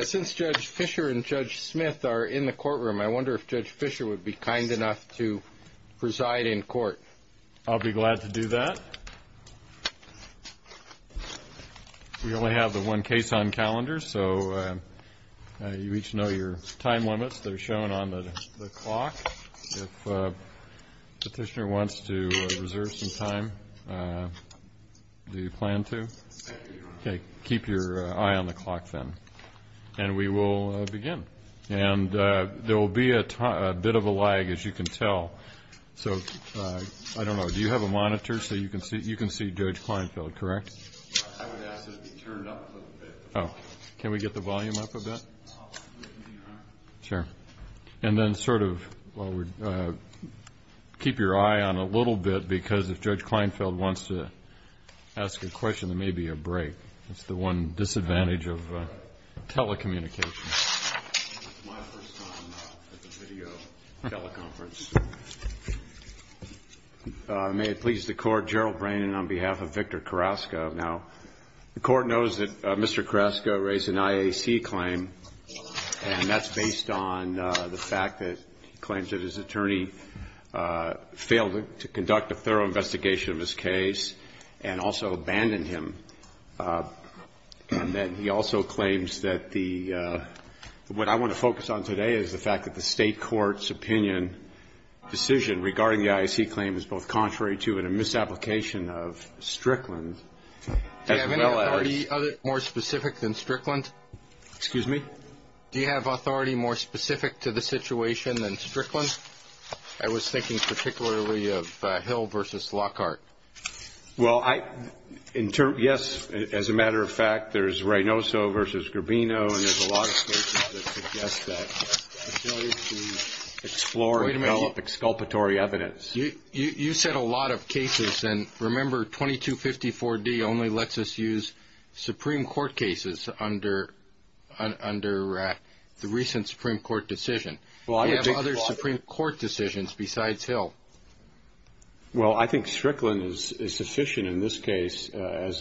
Since Judge Fischer and Judge Smith are in the courtroom, I wonder if Judge Fischer would be kind enough to preside in court. I'll be glad to do that. We only have the one case on calendar, so you each know your time limits. They're shown on the clock. If the petitioner wants to reserve some time, do you plan to? Keep your eye on the clock, then. We will begin. There will be a bit of a lag, as you can tell. I don't know, do you have a monitor so you can see Judge Kleinfeld, correct? I would ask that it be turned up a little bit. Can we get the volume up a bit? Sure. And then sort of keep your eye on it a little bit, because if Judge Kleinfeld wants to ask a question, there may be a break. That's the one disadvantage of telecommunications. It's my first time at the video teleconference. May it please the Court, Gerald Brannan on behalf of Victor Carrasco. Now, the Court knows that Mr. Carrasco raised an IAC claim, and that's based on the fact that he claims that his attorney failed to conduct a thorough investigation of his case and also abandoned him. And then he also claims that the what I want to focus on today is the fact that the State court's opinion decision regarding the IAC claim is both contrary to and a misapplication of Strickland as well as- Do you have any authority more specific than Strickland? Excuse me? Do you have authority more specific to the situation than Strickland? I was thinking particularly of Hill versus Lockhart. Well, yes, as a matter of fact, there's Reynoso versus Gravino, and there's a lot of cases that suggest that explore and develop exculpatory evidence. You said a lot of cases, and remember 2254D only lets us use Supreme Court cases under the recent Supreme Court decision. We have other Supreme Court decisions besides Hill. Well, I think Strickland is sufficient in this case as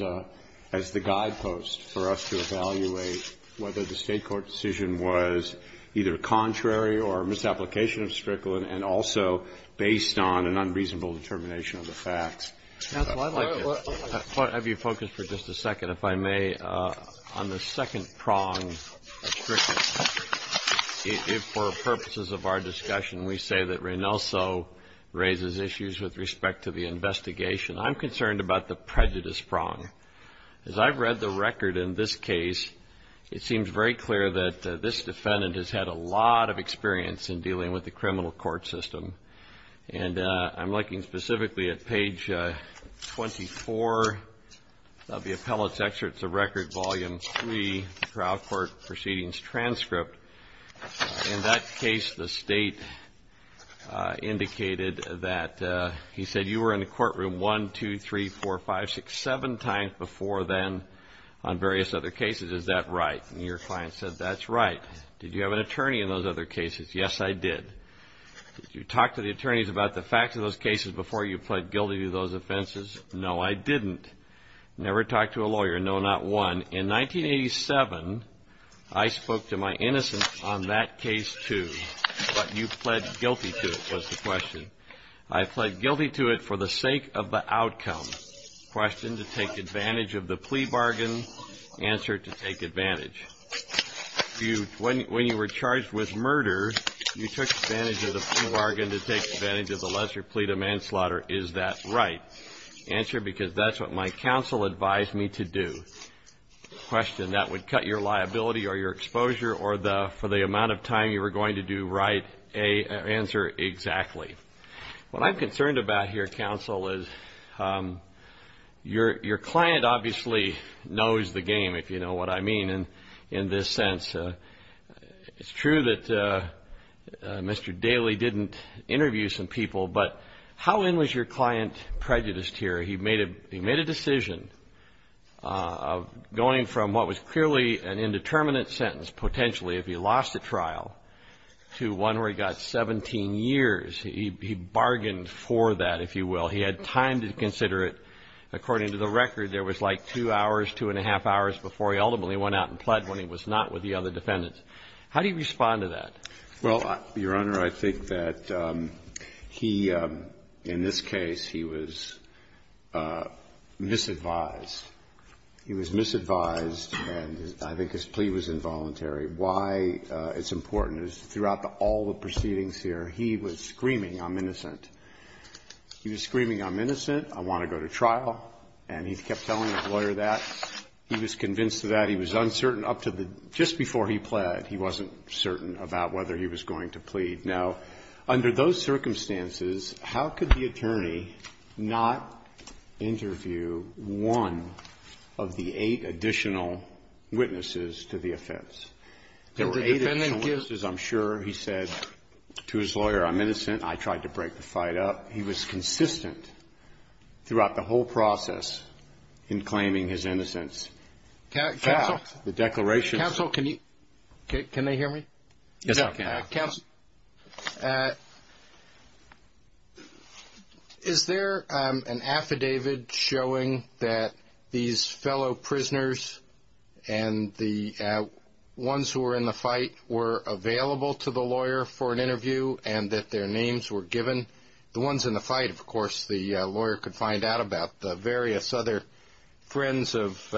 the guidepost for us to evaluate whether the State court decision was either contrary or a misapplication of Strickland and also based on an unreasonable determination of the facts. Counsel, I'd like to have you focus for just a second, if I may, on the second prong of Strickland. If for purposes of our discussion we say that Reynoso raises issues with respect to the investigation, I'm concerned about the prejudice prong. As I've read the record in this case, it seems very clear that this defendant has had a lot of experience in dealing with the criminal court system. And I'm looking specifically at page 24 of the appellate's excerpts of record, volume 3, trial court proceedings transcript. In that case, the State indicated that he said you were in the courtroom 1, 2, 3, 4, 5, 6, 7 times before then on various other cases. Is that right? And your client said, that's right. Did you have an attorney in those other cases? Yes, I did. Did you talk to the attorneys about the facts of those cases before you pled guilty to those offenses? No, I didn't. Never talked to a lawyer? No, not one. In 1987, I spoke to my innocence on that case, too. But you pled guilty to it, was the question. I pled guilty to it for the sake of the outcome. Question, to take advantage of the plea bargain. Answer, to take advantage. When you were charged with murder, you took advantage of the plea bargain to take advantage of the lesser plea to manslaughter. Is that right? Answer, because that's what my counsel advised me to do. Question, that would cut your liability or your exposure for the amount of time you were going to do right. Answer, exactly. What I'm concerned about here, counsel, is your client obviously knows the game, if you know what I mean in this sense. It's true that Mr. Daley didn't interview some people, but how in was your client prejudiced here? He made a decision of going from what was clearly an indeterminate sentence potentially if he lost the trial to one where he got 17 years. He bargained for that, if you will. He had time to consider it. According to the record, there was like two hours, two and a half hours before he ultimately went out and pled when he was not with the other defendants. How do you respond to that? Well, Your Honor, I think that he, in this case, he was misadvised. He was misadvised, and I think his plea was involuntary. Why it's important is throughout all the proceedings here, he was screaming, I'm innocent. He was screaming, I'm innocent, I want to go to trial, and he kept telling his lawyer that. He was convinced of that. He was uncertain up to the just before he pled, he wasn't certain about whether he was going to plead. Now, under those circumstances, how could the attorney not interview one of the eight additional witnesses to the offense? There were eight additional witnesses, I'm sure. He said to his lawyer, I'm innocent. I tried to break the fight up. He was consistent throughout the whole process in claiming his innocence. Counsel, can they hear me? Yes, I can. Counsel, is there an affidavit showing that these fellow prisoners and the ones who were in the fight were available to the lawyer for an interview and that their names were given? The ones in the fight, of course, the lawyer could find out about. The various other friends of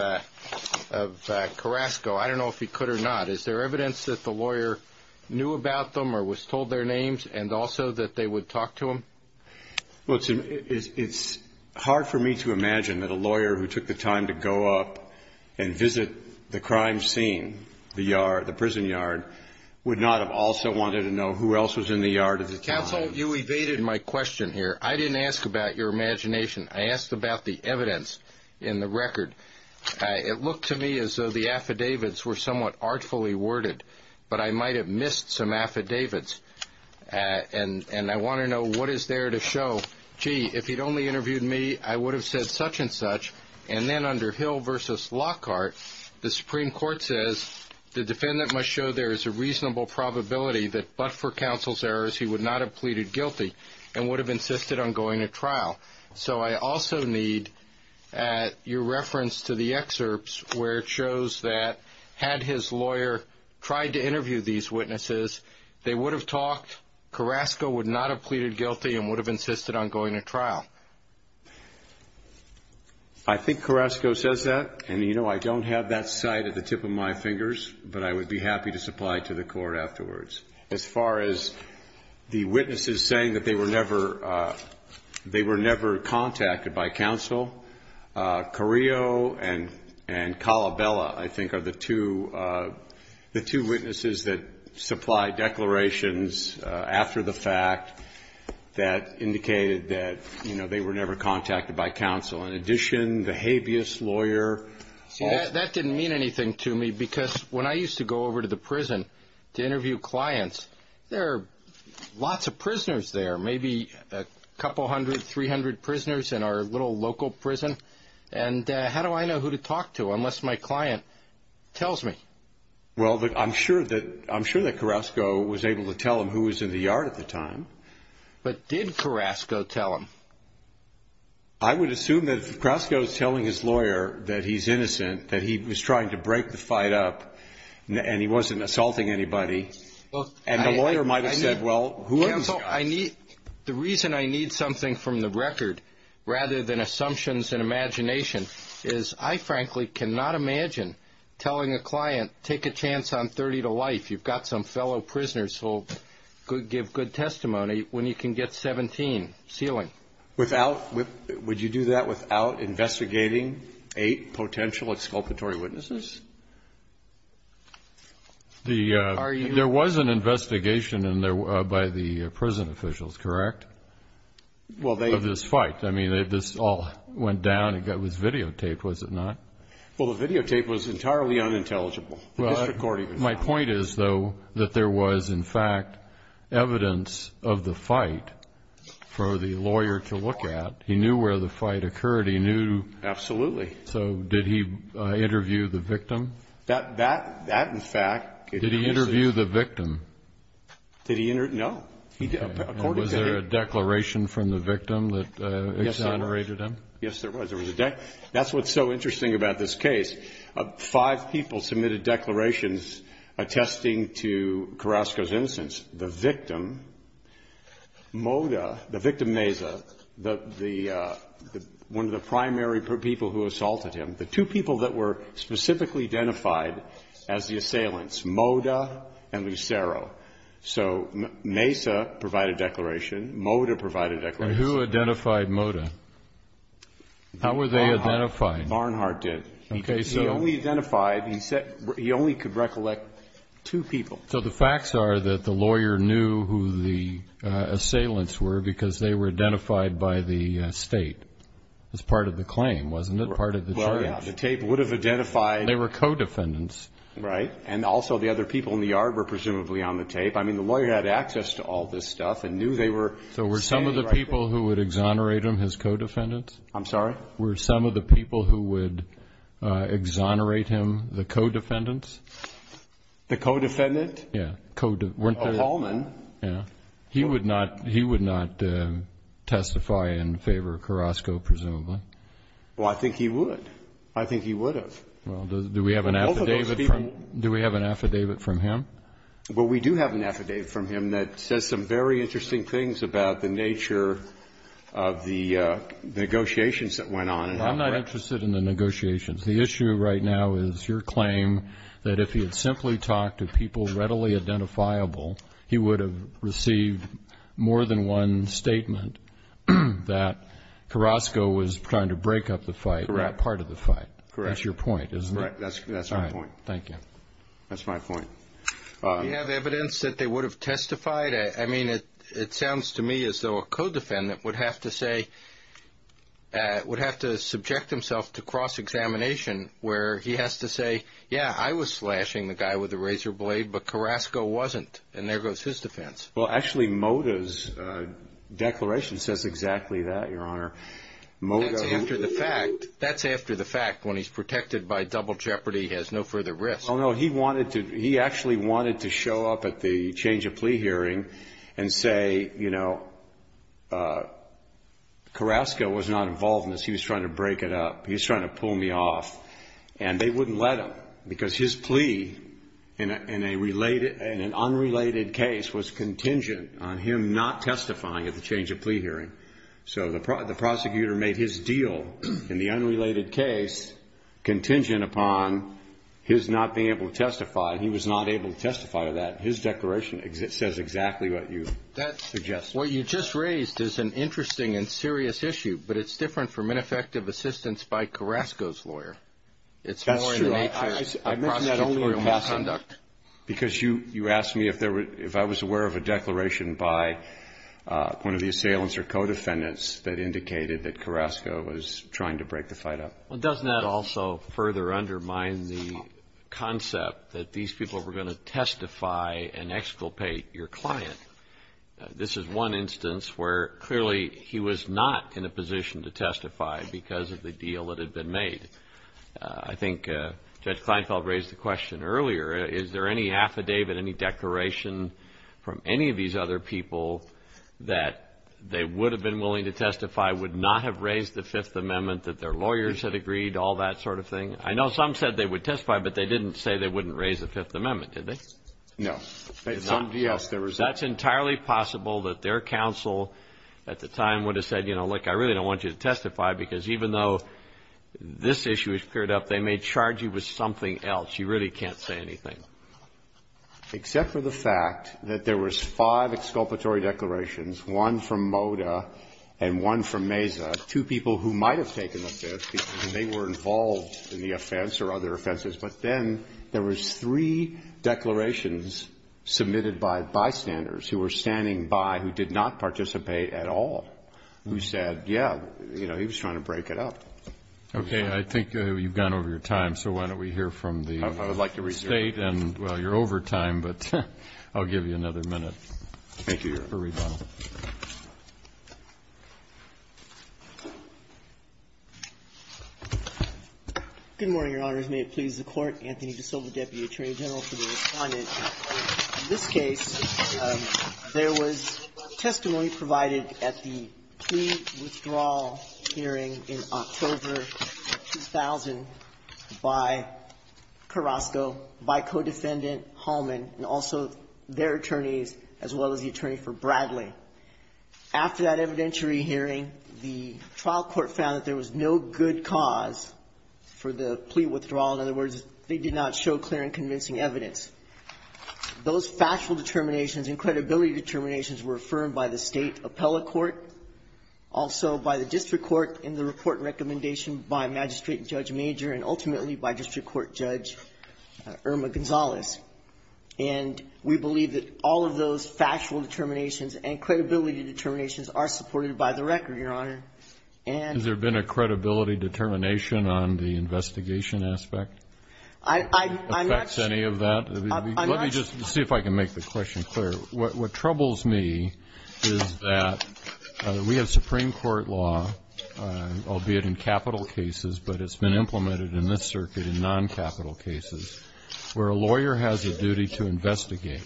Carrasco, I don't know if he could or not. Is there evidence that the lawyer knew about them or was told their names and also that they would talk to him? Well, it's hard for me to imagine that a lawyer who took the time to go up and visit the crime scene, the prison yard, would not have also wanted to know who else was in the yard at the time. Counsel, you evaded my question here. I didn't ask about your imagination. I asked about the evidence in the record. It looked to me as though the affidavits were somewhat artfully worded, but I might have missed some affidavits. And I want to know what is there to show. Gee, if he'd only interviewed me, I would have said such and such. And then under Hill v. Lockhart, the Supreme Court says the defendant must show there is a reasonable probability that but for counsel's errors he would not have pleaded guilty and would have insisted on going to trial. So I also need your reference to the excerpts where it shows that had his lawyer tried to interview these witnesses, they would have talked, Carrasco would not have pleaded guilty and would have insisted on going to trial. I think Carrasco says that, and, you know, I don't have that sight at the tip of my fingers, but I would be happy to supply it to the court afterwards. As far as the witnesses saying that they were never contacted by counsel, Carrillo and Calabella, I think, are the two witnesses that supply declarations after the fact that indicated that, you know, they were never contacted by counsel. In addition, the habeas lawyer. That didn't mean anything to me because when I used to go over to the prison to interview clients, there are lots of prisoners there, maybe a couple hundred, 300 prisoners in our little local prison. And how do I know who to talk to unless my client tells me? Well, I'm sure that Carrasco was able to tell him who was in the yard at the time. But did Carrasco tell him? I would assume that if Carrasco is telling his lawyer that he's innocent, that he was trying to break the fight up and he wasn't assaulting anybody, and the lawyer might have said, well, who am I? The reason I need something from the record rather than assumptions and imagination is I, frankly, cannot imagine telling a client, take a chance on 30 to life. You've got some fellow prisoners, so give good testimony when you can get 17, ceiling. Would you do that without investigating eight potential exculpatory witnesses? There was an investigation by the prison officials, correct, of this fight? I mean, this all went down. It was videotaped, was it not? Well, the videotape was entirely unintelligible. My point is, though, that there was, in fact, evidence of the fight for the lawyer to look at. He knew where the fight occurred. He knew. Absolutely. So did he interview the victim? That, in fact. Did he interview the victim? No. Was there a declaration from the victim that exonerated him? Yes, there was. That's what's so interesting about this case. Five people submitted declarations attesting to Carrasco's innocence. The victim, Mota, the victim Mesa, the one of the primary people who assaulted him, the two people that were specifically identified as the assailants, Mota and Lucero. So Mesa provided a declaration. Mota provided a declaration. And who identified Mota? How were they identified? Barnhart did. He only identified, he only could recollect two people. So the facts are that the lawyer knew who the assailants were because they were identified by the state. It was part of the claim, wasn't it? Part of the charge. The tape would have identified. They were co-defendants. Right. And also the other people in the yard were presumably on the tape. I mean, the lawyer had access to all this stuff and knew they were. So were some of the people who would exonerate him his co-defendants? I'm sorry? Were some of the people who would exonerate him the co-defendants? The co-defendant? Yeah. A hallman. Yeah. He would not testify in favor of Carrasco, presumably. Well, I think he would. I think he would have. Well, do we have an affidavit from him? Well, we do have an affidavit from him that says some very interesting things about the nature of the negotiations that went on. I'm not interested in the negotiations. The issue right now is your claim that if he had simply talked to people readily identifiable, he would have received more than one statement that Carrasco was trying to break up the fight, that part of the fight. Correct. That's your point, isn't it? That's my point. Thank you. That's my point. Do you have evidence that they would have testified? I mean, it sounds to me as though a co-defendant would have to subject himself to cross-examination, where he has to say, yeah, I was slashing the guy with the razor blade, but Carrasco wasn't, and there goes his defense. Well, actually, Moda's declaration says exactly that, Your Honor. That's after the fact. That's after the fact, when he's protected by double jeopardy, he has no further risk. Oh, no. He actually wanted to show up at the change of plea hearing and say, you know, Carrasco was not involved in this. He was trying to break it up. He was trying to pull me off. And they wouldn't let him because his plea in an unrelated case was contingent on him not testifying at the change of plea hearing. So the prosecutor made his deal in the unrelated case contingent upon his not being able to testify. He was not able to testify to that. His declaration says exactly what you suggested. What you just raised is an interesting and serious issue, but it's different from ineffective assistance by Carrasco's lawyer. It's more in the nature of prosecutorial misconduct. Because you asked me if I was aware of a declaration by one of the assailants or co-defendants that indicated that Carrasco was trying to break the fight up. Well, doesn't that also further undermine the concept that these people were going to testify and exculpate your client? This is one instance where clearly he was not in a position to testify because of the deal that had been made. I think Judge Kleinfeld raised the question earlier. Is there any affidavit, any declaration from any of these other people that they would have been willing to testify, would not have raised the Fifth Amendment, that their lawyers had agreed, all that sort of thing? I know some said they would testify, but they didn't say they wouldn't raise the Fifth Amendment, did they? No. Some, yes. That's entirely possible that their counsel at the time would have said, you know, look, I really don't want you to testify because even though this issue has cleared up, they may charge you with something else. You really can't say anything. Except for the fact that there was five exculpatory declarations, one from MoDA and one from MESA, two people who might have taken the Fifth because they were involved in the offense or other offenses. But then there was three declarations submitted by bystanders who were standing by who did not participate at all, who said, yeah, you know, he was trying to break it up. Okay. I think you've gone over your time, so why don't we hear from the State. I would like to resume. And, well, you're over time, but I'll give you another minute. Thank you, Your Honor. For rebuttal. Good morning, Your Honors. May it please the Court. Anthony DeSilva, Deputy Attorney General, for the Respondent. In this case, there was testimony provided at the plea withdrawal hearing in October 2000 by Carrasco, by Codefendant Hallman, and also their attorneys, as well as the attorney for Bradley. After that evidentiary hearing, the trial court found that there was no good cause for the plea withdrawal. In other words, they did not show clear and convincing evidence. Those factual determinations and credibility determinations were affirmed by the State appellate court, also by the district court in the report and recommendation by Magistrate Judge Major and ultimately by District Court Judge Irma Gonzalez. And we believe that all of those factual determinations and credibility determinations are supported by the record, Your Honor. Has there been a credibility determination on the investigation aspect? I'm not sure. Affects any of that? I'm not sure. Let me just see if I can make the question clear. What troubles me is that we have Supreme Court law, albeit in capital cases, but it's been implemented in this circuit in non-capital cases where a lawyer has a duty to investigate.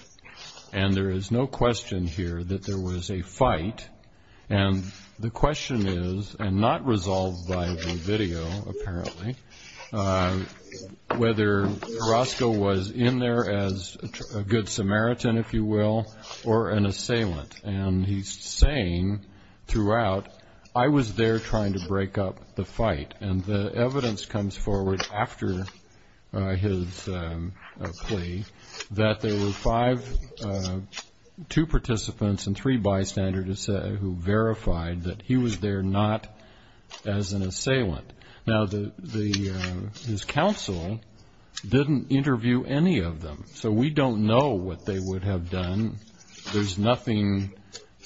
And there is no question here that there was a fight. And the question is, and not resolved by the video apparently, whether Roscoe was in there as a good Samaritan, if you will, or an assailant. And he's saying throughout, I was there trying to break up the fight. And the evidence comes forward after his plea that there were two participants and three bystanders who verified that he was there not as an assailant. Now, his counsel didn't interview any of them. So we don't know what they would have done. There's nothing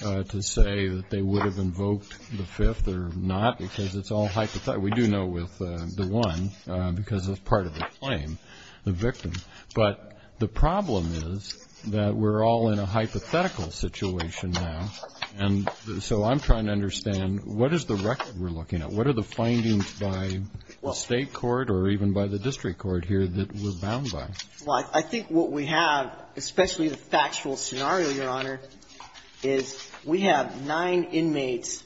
to say that they would have invoked the Fifth or not because it's all hypothetical. We do know with the one because it's part of the claim, the victim. But the problem is that we're all in a hypothetical situation now. And so I'm trying to understand, what is the record we're looking at? What are the findings by the State court or even by the district court here that we're bound by? Well, I think what we have, especially the factual scenario, Your Honor, is we have nine inmates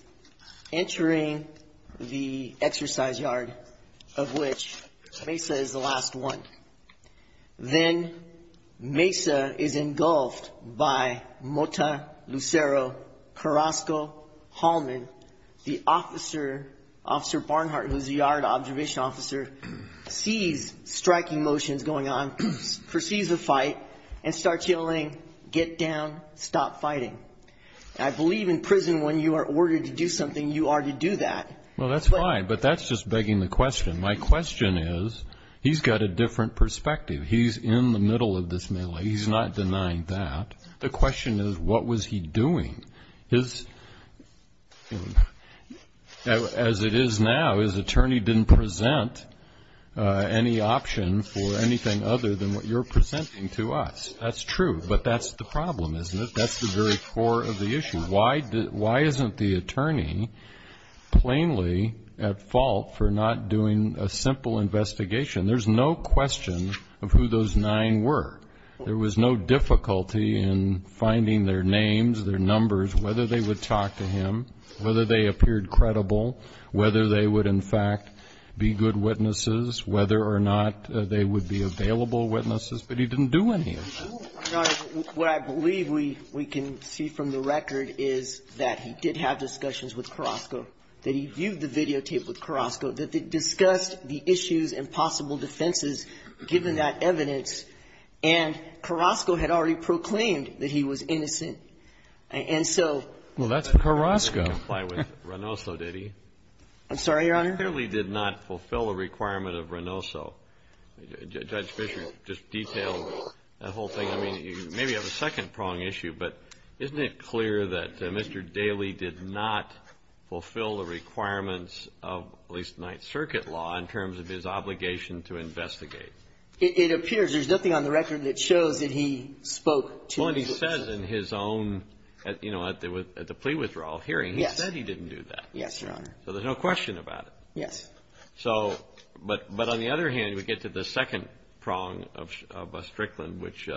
entering the exercise yard of which Mesa is the last one. Then Mesa is engulfed by Mota Lucero Carrasco-Hallman, the officer, Officer Barnhart, who's the yard observation officer, sees striking motions going on, perceives a fight, and starts yelling, get down, stop fighting. I believe in prison when you are ordered to do something, you are to do that. Well, that's fine, but that's just begging the question. My question is he's got a different perspective. He's in the middle of this melee. He's not denying that. The question is, what was he doing? His, as it is now, his attorney didn't present any option for anything other than what you're presenting to us. That's true. But that's the problem, isn't it? That's the very core of the issue. Why isn't the attorney plainly at fault for not doing a simple investigation? There's no question of who those nine were. There was no difficulty in finding their names, their numbers, whether they would talk to him, whether they appeared credible, whether they would, in fact, be good witnesses, whether or not they would be available witnesses. But he didn't do any of that. Your Honor, what I believe we can see from the record is that he did have discussions with Carrasco, that he viewed the videotape with Carrasco, that they discussed the issues and possible defenses, given that evidence. And Carrasco had already proclaimed that he was innocent. And so that's Carrasco. Well, that doesn't comply with Reynoso, did he? I'm sorry, Your Honor? Daly did not fulfill a requirement of Reynoso. Judge Fischer just detailed that whole thing. I mean, you maybe have a second prong issue, but isn't it clear that Mr. Daly did not fulfill the requirements of at least Ninth Circuit law in terms of his obligation to investigate? It appears. There's nothing on the record that shows that he spoke to his witnesses. Well, and he says in his own, you know, at the plea withdrawal hearing, he said he didn't do that. Yes, Your Honor. So there's no question about it. Yes. So, but on the other hand, we get to the second prong of Strickland, which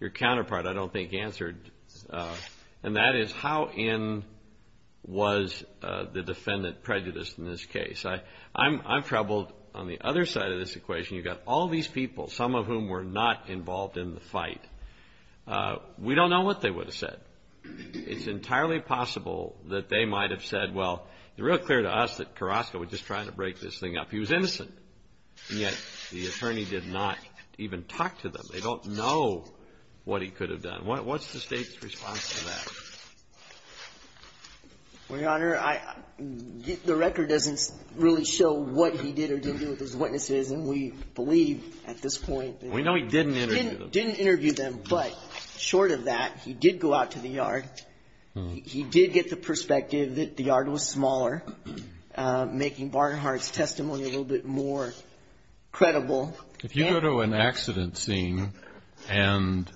your counterpart I don't think answered. And that is how in was the defendant prejudiced in this case? I'm troubled on the other side of this equation. You've got all these people, some of whom were not involved in the fight. We don't know what they would have said. It's entirely possible that they might have said, well, it's real clear to us that Carrasco was just trying to break this thing up. He was innocent. And yet the attorney did not even talk to them. They don't know what he could have done. What's the state's response to that? Well, Your Honor, the record doesn't really show what he did or didn't do with his witnesses. And we believe at this point that he didn't interview them. But short of that, he did go out to the yard. He did get the perspective that the yard was smaller, making Barnhart's testimony a little bit more credible. If you go to an accident scene, and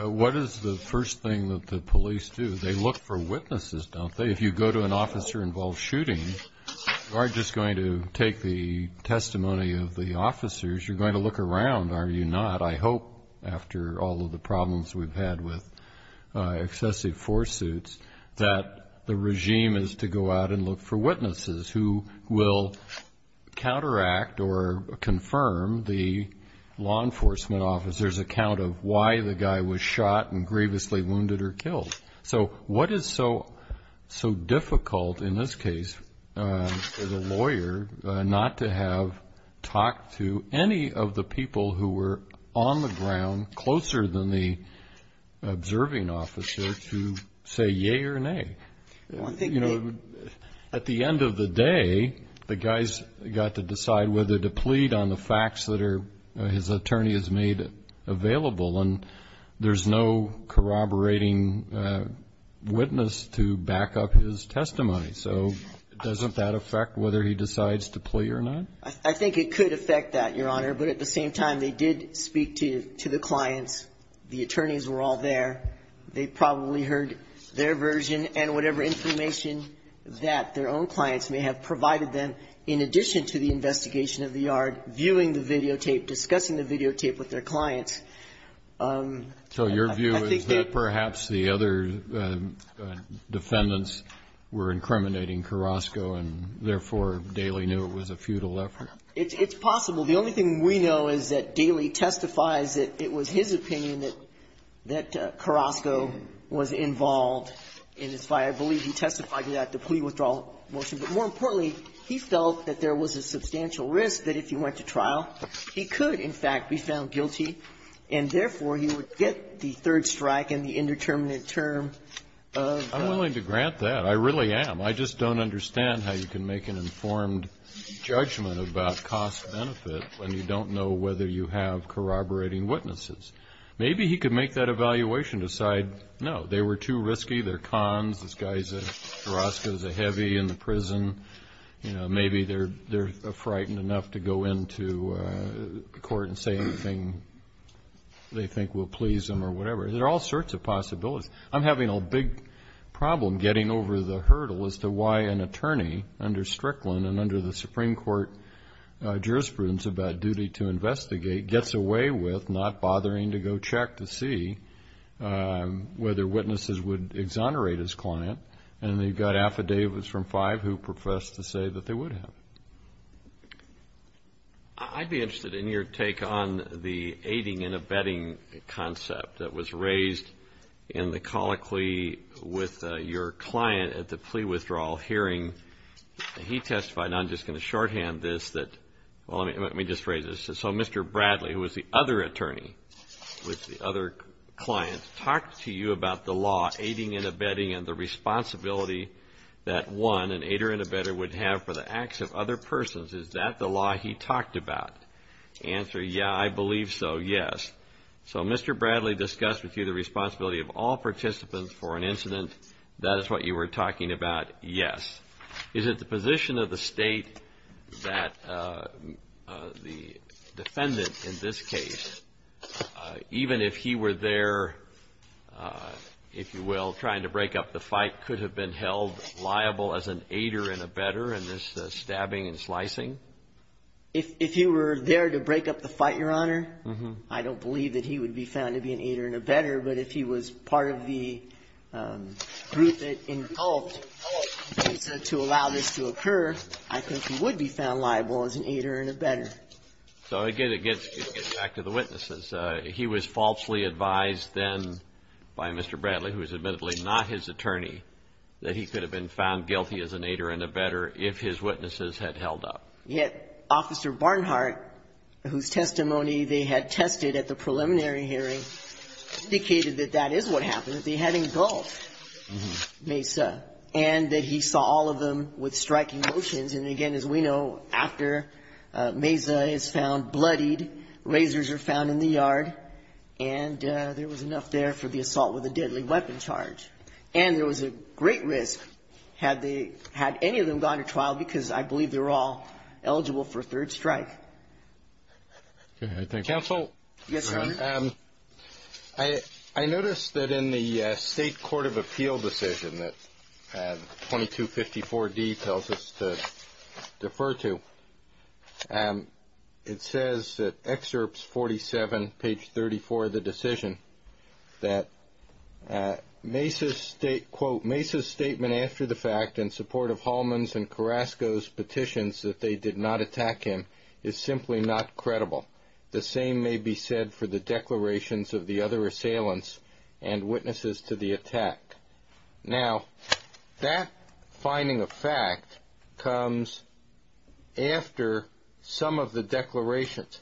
what is the first thing that the police do? They look for witnesses, don't they? If you go to an officer-involved shooting, you aren't just going to take the testimony of the officers. You're going to look around, are you not? I hope, after all of the problems we've had with excessive force suits, that the regime is to go out and look for witnesses who will counteract or confirm the law enforcement officer's account of why the guy was shot and grievously wounded or killed. So what is so difficult in this case for the lawyer not to have talked to any of the people who were on the ground closer than the observing officer to say yea or nay? At the end of the day, the guy's got to decide whether to plead on the facts that his attorney has made available. And there's no corroborating witness to back up his testimony. So doesn't that affect whether he decides to plead or not? I think it could affect that, Your Honor. But at the same time, they did speak to the clients. The attorneys were all there. They probably heard their version and whatever information that their own clients may have provided them, in addition to the investigation of the yard, viewing the videotape, discussing the videotape with their clients. So your view is that perhaps the other defendants were incriminating Carrasco and, therefore, Daley knew it was a futile effort? It's possible. The only thing we know is that Daley testifies that it was his opinion that Carrasco was involved, and it's why I believe he testified to that, the plea withdrawal motion. But more importantly, he felt that there was a substantial risk that if he went to trial, he could, in fact, be found guilty, and, therefore, he would get the third strike and the indeterminate term. I'm willing to grant that. I really am. I just don't understand how you can make an informed judgment about cost-benefit when you don't know whether you have corroborating witnesses. Maybe he could make that evaluation, decide, no, they were too risky, their cons, this guy, Carrasco's a heavy in the prison, maybe they're frightened enough to go into court and say anything they think will please them or whatever. There are all sorts of possibilities. I'm having a big problem getting over the hurdle as to why an attorney under Strickland and under the Supreme Court jurisprudence about duty to investigate gets away with not bothering to go check to see whether witnesses would exonerate his client, and they've got affidavits from five who profess to say that they would have. I'd be interested in your take on the aiding and abetting concept that was raised in the colloquy with your client at the plea withdrawal hearing. He testified, and I'm just going to shorthand this, that, well, let me just phrase this. So Mr. Bradley, who was the other attorney with the other client, talked to you about the law aiding and abetting and the responsibility that one, an aider and abetter, would have for the acts of other persons. Is that the law he talked about? Answer, yeah, I believe so, yes. So Mr. Bradley discussed with you the responsibility of all participants for an incident. That is what you were talking about, yes. Is it the position of the State that the defendant in this case, even if he were there, if you will, trying to break up the fight, could have been held liable as an aider and abetter in this stabbing and slicing? If he were there to break up the fight, Your Honor, I don't believe that he would be found to be an aider and abetter, but if he was part of the group that involved the case to allow this to occur, I think he would be found liable as an aider and abetter. So again, it gets back to the witnesses. He was falsely advised then by Mr. Bradley, who is admittedly not his attorney, that he could have been found guilty as an aider and abetter if his witnesses had held up. Yet Officer Barnhart, whose testimony they had tested at the preliminary hearing, indicated that that is what happened, that they had engulfed Mesa and that he saw all of them with striking motions. And again, as we know, after Mesa is found bloodied, razors are found in the yard, and there was enough there for the assault with a deadly weapon charge. And there was a great risk had any of them gone to trial because I believe they were all eligible for a third strike. Counsel? Yes, sir. I noticed that in the State Court of Appeal decision that 2254D tells us to defer to, it says in Excerpts 47, page 34 of the decision that Mesa's statement after the fact, in support of Hallman's and Carrasco's petitions that they did not attack him, is simply not credible. The same may be said for the declarations of the other assailants and witnesses to the attack. Now, that finding of fact comes after some of the declarations.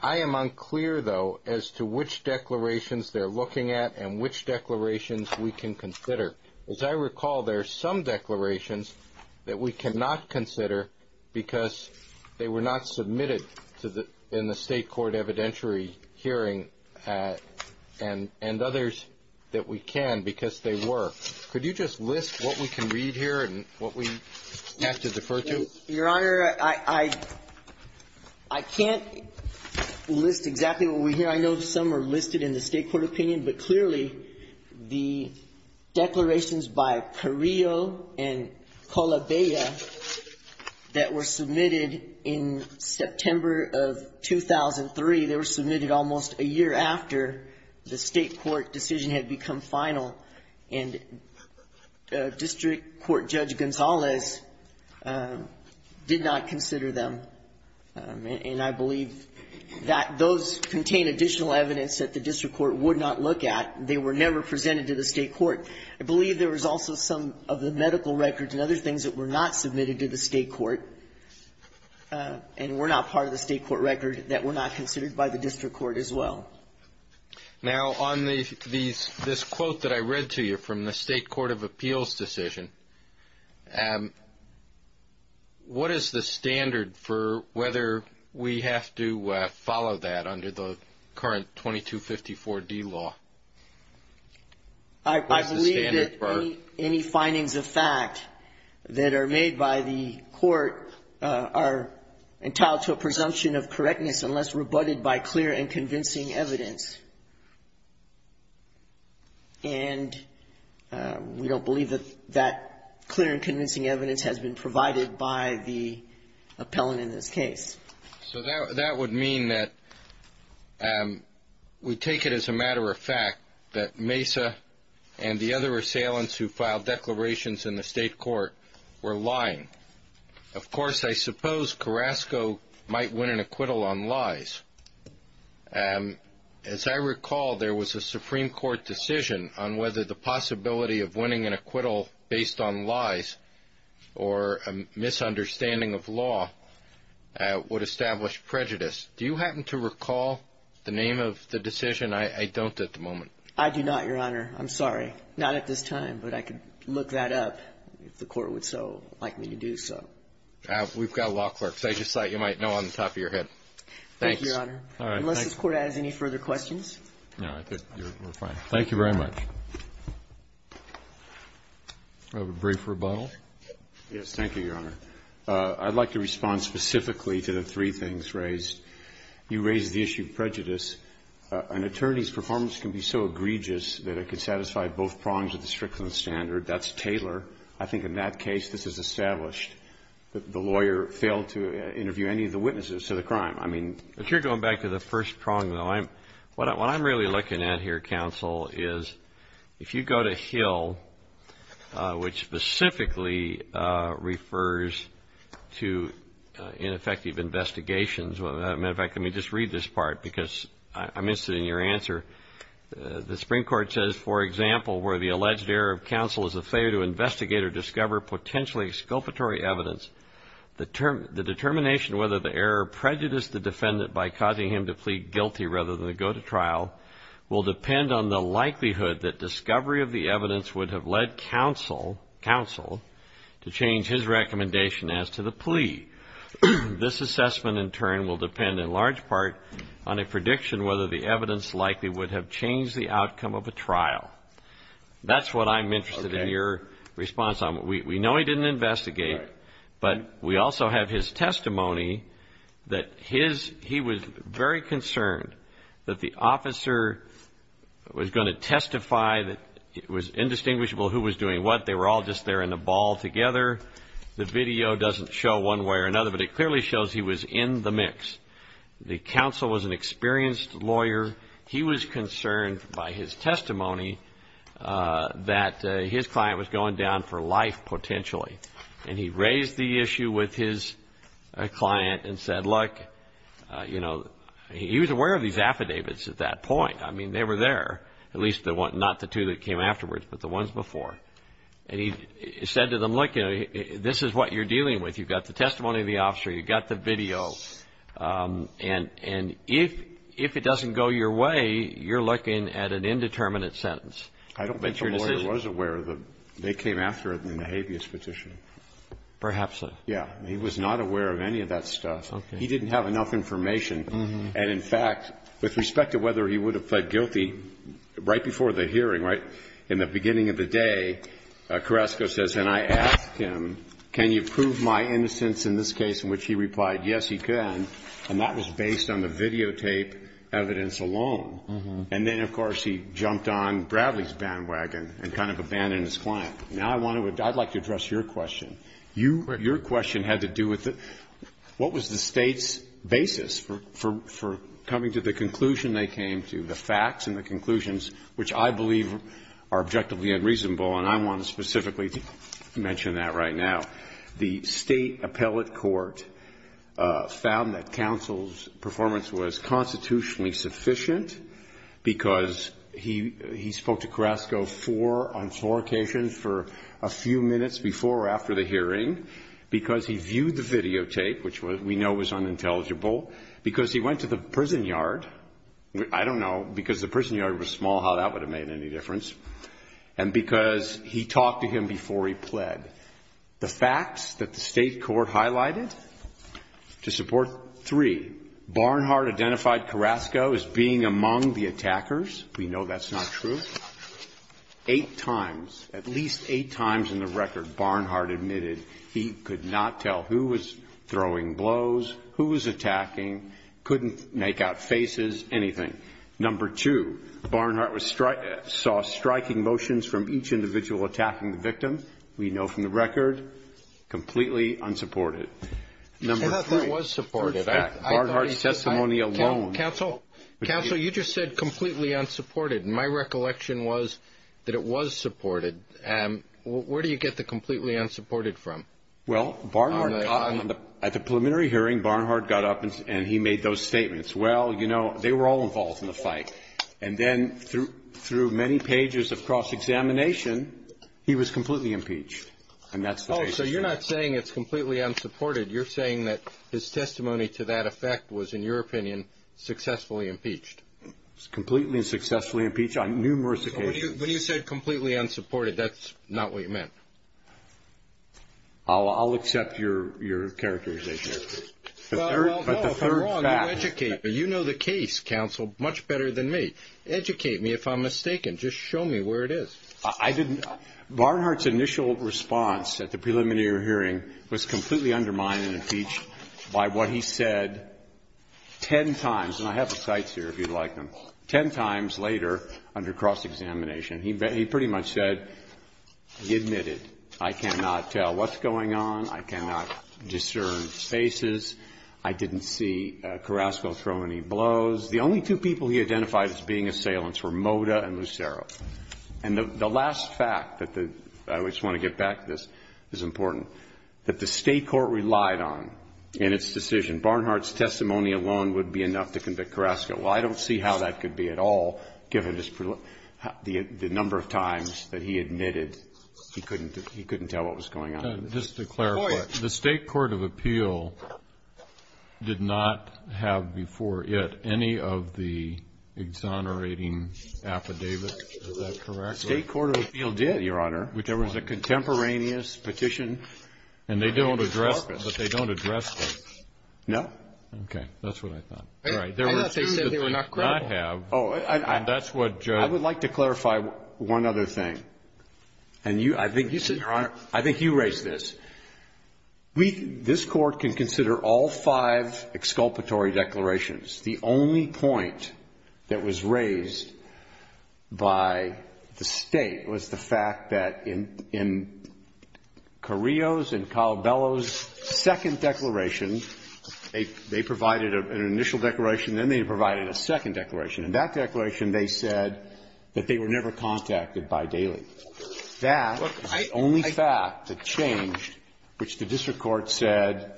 I am unclear, though, as to which declarations they're looking at and which declarations we can consider. As I recall, there are some declarations that we cannot consider because they were not submitted in the State Court evidentiary hearing and others that we can because they were. Could you just list what we can read here and what we have to defer to? Your Honor, I can't list exactly what we hear. Your Honor, I know some are listed in the State Court opinion, but clearly the declarations by Carrillo and Colabella that were submitted in September of 2003, they were submitted almost a year after the State Court decision had become final, and District Court Judge Gonzalez did not consider them. And I believe that those contain additional evidence that the District Court would not look at. They were never presented to the State Court. I believe there was also some of the medical records and other things that were not submitted to the State Court and were not part of the State Court record that were not considered by the District Court as well. Now, on this quote that I read to you from the State Court of Appeals decision, what is the standard for whether we have to follow that under the current 2254D law? I believe that any findings of fact that are made by the court are entitled to a presumption of correctness unless rebutted by clear and convincing evidence. And we don't believe that that clear and convincing evidence has been provided by the appellant in this case. So that would mean that we take it as a matter of fact that Mesa and the other assailants who filed declarations in the State Court were lying. Of course, I suppose Carrasco might win an acquittal on lies. As I recall, there was a Supreme Court decision on whether the possibility of winning an acquittal based on lies or a misunderstanding of law would establish prejudice. Do you happen to recall the name of the decision? I don't at the moment. I do not, Your Honor. I'm sorry. Not at this time, but I can look that up if the court would so like me to do so. We've got law clerks. I just thought you might know on the top of your head. Thank you, Your Honor. Unless this Court has any further questions. No, I think we're fine. Thank you very much. Do we have a brief rebuttal? Yes, thank you, Your Honor. I'd like to respond specifically to the three things raised. You raised the issue of prejudice. An attorney's performance can be so egregious that it could satisfy both prongs of the strictness standard. That's Taylor. I think in that case, this is established. The lawyer failed to interview any of the witnesses to the crime. If you're going back to the first prong, though, what I'm really looking at here, counsel, is if you go to Hill, which specifically refers to ineffective investigations. As a matter of fact, let me just read this part because I'm interested in your answer. The Supreme Court says, for example, where the alleged error of counsel is a failure to investigate or discover potentially exculpatory evidence, the determination whether the error prejudiced the defendant by causing him to plead guilty rather than go to trial will depend on the likelihood that discovery of the evidence would have led counsel to change his recommendation as to the plea. This assessment, in turn, will depend in large part on a prediction whether the evidence likely would have changed the outcome of a trial. That's what I'm interested in your response on. We know he didn't investigate, but we also have his testimony that he was very concerned that the officer was going to testify. It was indistinguishable who was doing what. They were all just there in a ball together. The video doesn't show one way or another, but it clearly shows he was in the mix. The counsel was an experienced lawyer. He was concerned by his testimony that his client was going down for life, potentially. And he raised the issue with his client and said, look, you know, he was aware of these affidavits at that point. I mean, they were there, at least not the two that came afterwards, but the ones before. And he said to them, look, this is what you're dealing with. You've got the testimony of the officer. You've got the video. And if it doesn't go your way, you're looking at an indeterminate sentence. I don't think the lawyer was aware that they came after him in a habeas petition. Perhaps so. Yeah. He was not aware of any of that stuff. Okay. He didn't have enough information. And, in fact, with respect to whether he would have pled guilty right before the hearing, right, in the beginning of the day, Carrasco says, and I asked him, can you prove my innocence in this case, in which he replied, yes, he can. And that was based on the videotape evidence alone. And then, of course, he jumped on Bradley's bandwagon and kind of abandoned his client. Now I want to address your question. Your question had to do with what was the State's basis for coming to the conclusion they came to, the facts and the conclusions, which I believe are objectively unreasonable. And I want to specifically mention that right now. The State appellate court found that counsel's performance was constitutionally sufficient because he spoke to Carrasco on four occasions for a few minutes before or after the hearing, because he viewed the videotape, which we know was unintelligible, because he went to the prison yard. I don't know. Because the prison yard was small, how that would have made any difference. And because he talked to him before he pled. The facts that the State court highlighted to support three, Barnhart identified Carrasco as being among the attackers. We know that's not true. Eight times, at least eight times in the record, Barnhart admitted he could not tell who was throwing blows, who was attacking, couldn't make out faces, anything. Number two, Barnhart saw striking motions from each individual attacking the victim. We know from the record, completely unsupported. Number three. I thought that was supported. Barnhart's testimony alone. Counsel, you just said completely unsupported. My recollection was that it was supported. Where do you get the completely unsupported from? Well, Barnhart, at the preliminary hearing, Barnhart got up and he made those statements. Well, you know, they were all involved in the fight. And then through many pages of cross-examination, he was completely impeached. So you're not saying it's completely unsupported. You're saying that his testimony to that effect was, in your opinion, successfully impeached. Completely and successfully impeached on numerous occasions. When you said completely unsupported, that's not what you meant. I'll accept your characterization. Well, if I'm wrong, you educate me. You know the case, counsel, much better than me. Educate me if I'm mistaken. Just show me where it is. I didn't. Barnhart's initial response at the preliminary hearing was completely undermined and impeached by what he said ten times. And I have the cites here if you'd like them. Ten times later, under cross-examination, he pretty much said, admitted, I cannot tell what's going on. I cannot discern faces. I didn't see Carrasco throw any blows. The only two people he identified as being assailants were Moda and Lucero. And the last fact that I just want to get back to this is important, that the state court relied on in its decision. Barnhart's testimony alone would be enough to convict Carrasco. Well, I don't see how that could be at all, given the number of times that he admitted he couldn't tell what was going on. Just to clarify, the state court of appeal did not have before it any of the exonerating affidavits. Is that correct? State court of appeal did, Your Honor. Which there was a contemporaneous petition. And they don't address them. But they don't address them. No. Okay. That's what I thought. I thought they said they were not credible. I would like to clarify one other thing. And you, I think you said, Your Honor, I think you raised this. We, this Court can consider all five exculpatory declarations. The only point that was raised by the State was the fact that in Carrillo's and Calabello's second declaration, they provided an initial declaration, then they provided a second declaration. In that declaration, they said that they were never contacted by Daley. That is the only fact that changed which the district court said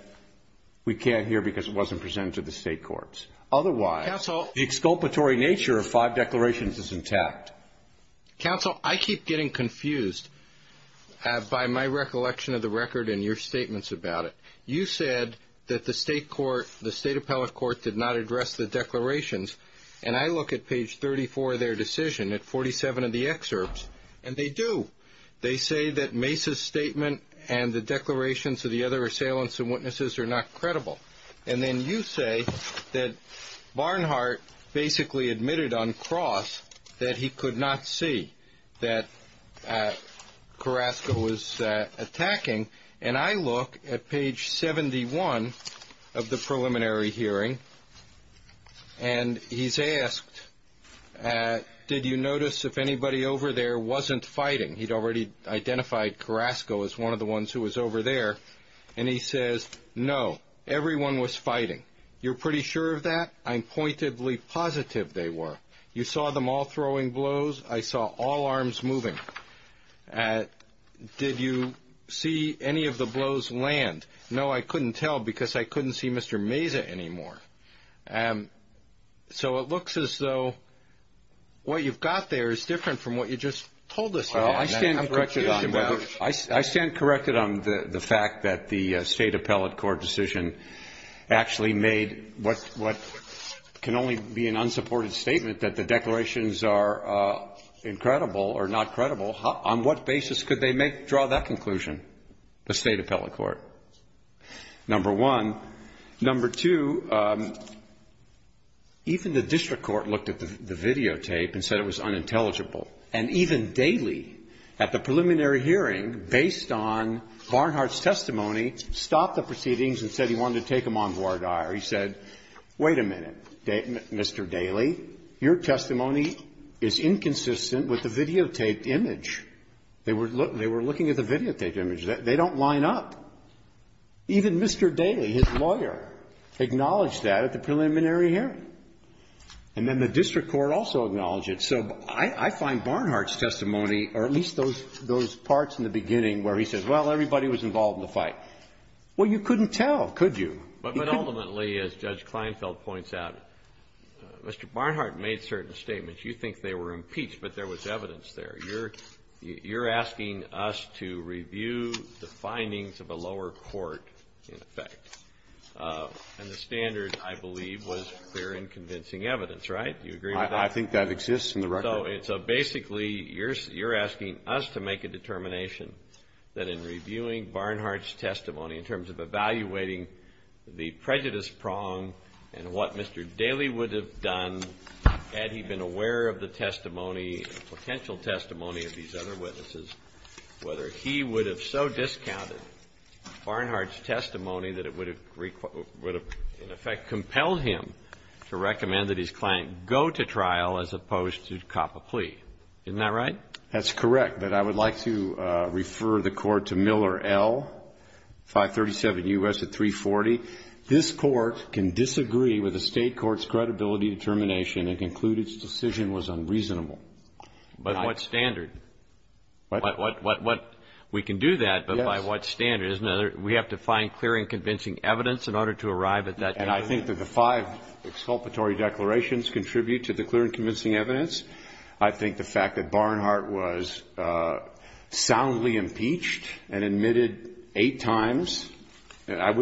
we can't hear because it wasn't presented to the state courts. Otherwise, the exculpatory nature of five declarations is intact. Counsel, I keep getting confused by my recollection of the record and your statements about it. You said that the state court, the state appellate court did not address the declarations. And I look at page 34 of their decision, at 47 of the excerpts, and they do. They say that Mace's statement and the declarations of the other assailants and witnesses are not credible. And then you say that Barnhart basically admitted on cross that he could not see that Carrasco was attacking. And I look at page 71 of the preliminary hearing, and he's asked, did you notice if anybody over there wasn't fighting? He'd already identified Carrasco as one of the ones who was over there. And he says, no, everyone was fighting. You're pretty sure of that? I'm pointedly positive they were. You saw them all throwing blows? I saw all arms moving. Did you see any of the blows land? No, I couldn't tell because I couldn't see Mr. Mace anymore. So it looks as though what you've got there is different from what you just told us. Well, I stand corrected on the fact that the State Appellate Court decision actually made what can only be an unsupported statement, that the declarations are incredible or not credible. On what basis could they draw that conclusion, the State Appellate Court, number one? Number two, even the district court looked at the videotape and said it was unintelligible. And even Daley, at the preliminary hearing, based on Barnhart's testimony, stopped the proceedings and said he wanted to take them on voir dire. He said, wait a minute, Mr. Daley. Your testimony is inconsistent with the videotaped image. They were looking at the videotaped image. They don't line up. Even Mr. Daley, his lawyer, acknowledged that at the preliminary hearing. And then the district court also acknowledged it. So I find Barnhart's testimony, or at least those parts in the beginning where he says, well, everybody was involved in the fight. Well, you couldn't tell, could you? But ultimately, as Judge Kleinfeld points out, Mr. Barnhart made certain statements. You think they were impeached, but there was evidence there. You're asking us to review the findings of a lower court, in effect. And the standard, I believe, was clear and convincing evidence, right? Do you agree with that? I think that exists in the record. So basically, you're asking us to make a determination that in reviewing Barnhart's testimony in terms of evaluating the prejudice prong and what Mr. Daley would have done had he been aware of the testimony, potential testimony of these other witnesses, whether he would have so discounted Barnhart's testimony that it would have, in effect, compelled him to recommend that his client go to trial as opposed to cop a plea. Isn't that right? That's correct. But I would like to refer the Court to Miller L., 537 U.S. at 340. This Court can disagree with a state court's credibility determination and conclude its decision was unreasonable. But what standard? What? We can do that, but by what standard? We have to find clear and convincing evidence in order to arrive at that conclusion? And I think that the five exculpatory declarations contribute to the clear and convincing evidence. I think the fact that Barnhart was soundly impeached and admitted eight times, I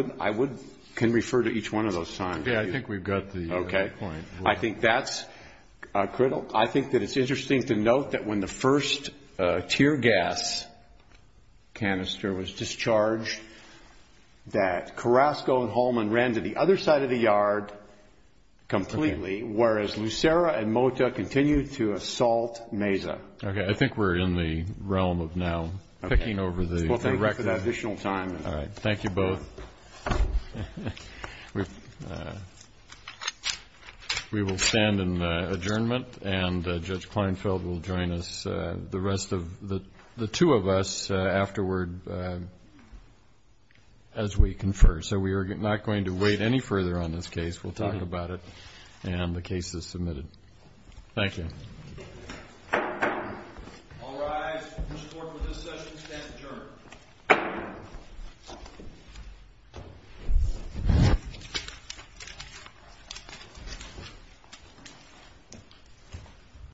can refer to each one of those times. Yeah, I think we've got the point. Okay. I think that's critical. I think that it's interesting to note that when the first tear gas canister was discharged, that Carrasco and Holman ran to the other side of the yard completely, whereas Lucera and Mota continued to assault Meza. Okay. I think we're in the realm of now picking over the record. We'll thank you for that additional time. All right. Thank you both. We will stand in adjournment, and Judge Kleinfeld will join us. The two of us afterward, as we confer. So we are not going to wait any further on this case. We'll talk about it when the case is submitted. Thank you. All rise. The case is submitted. Thank you for your support for this session. We stand adjourned.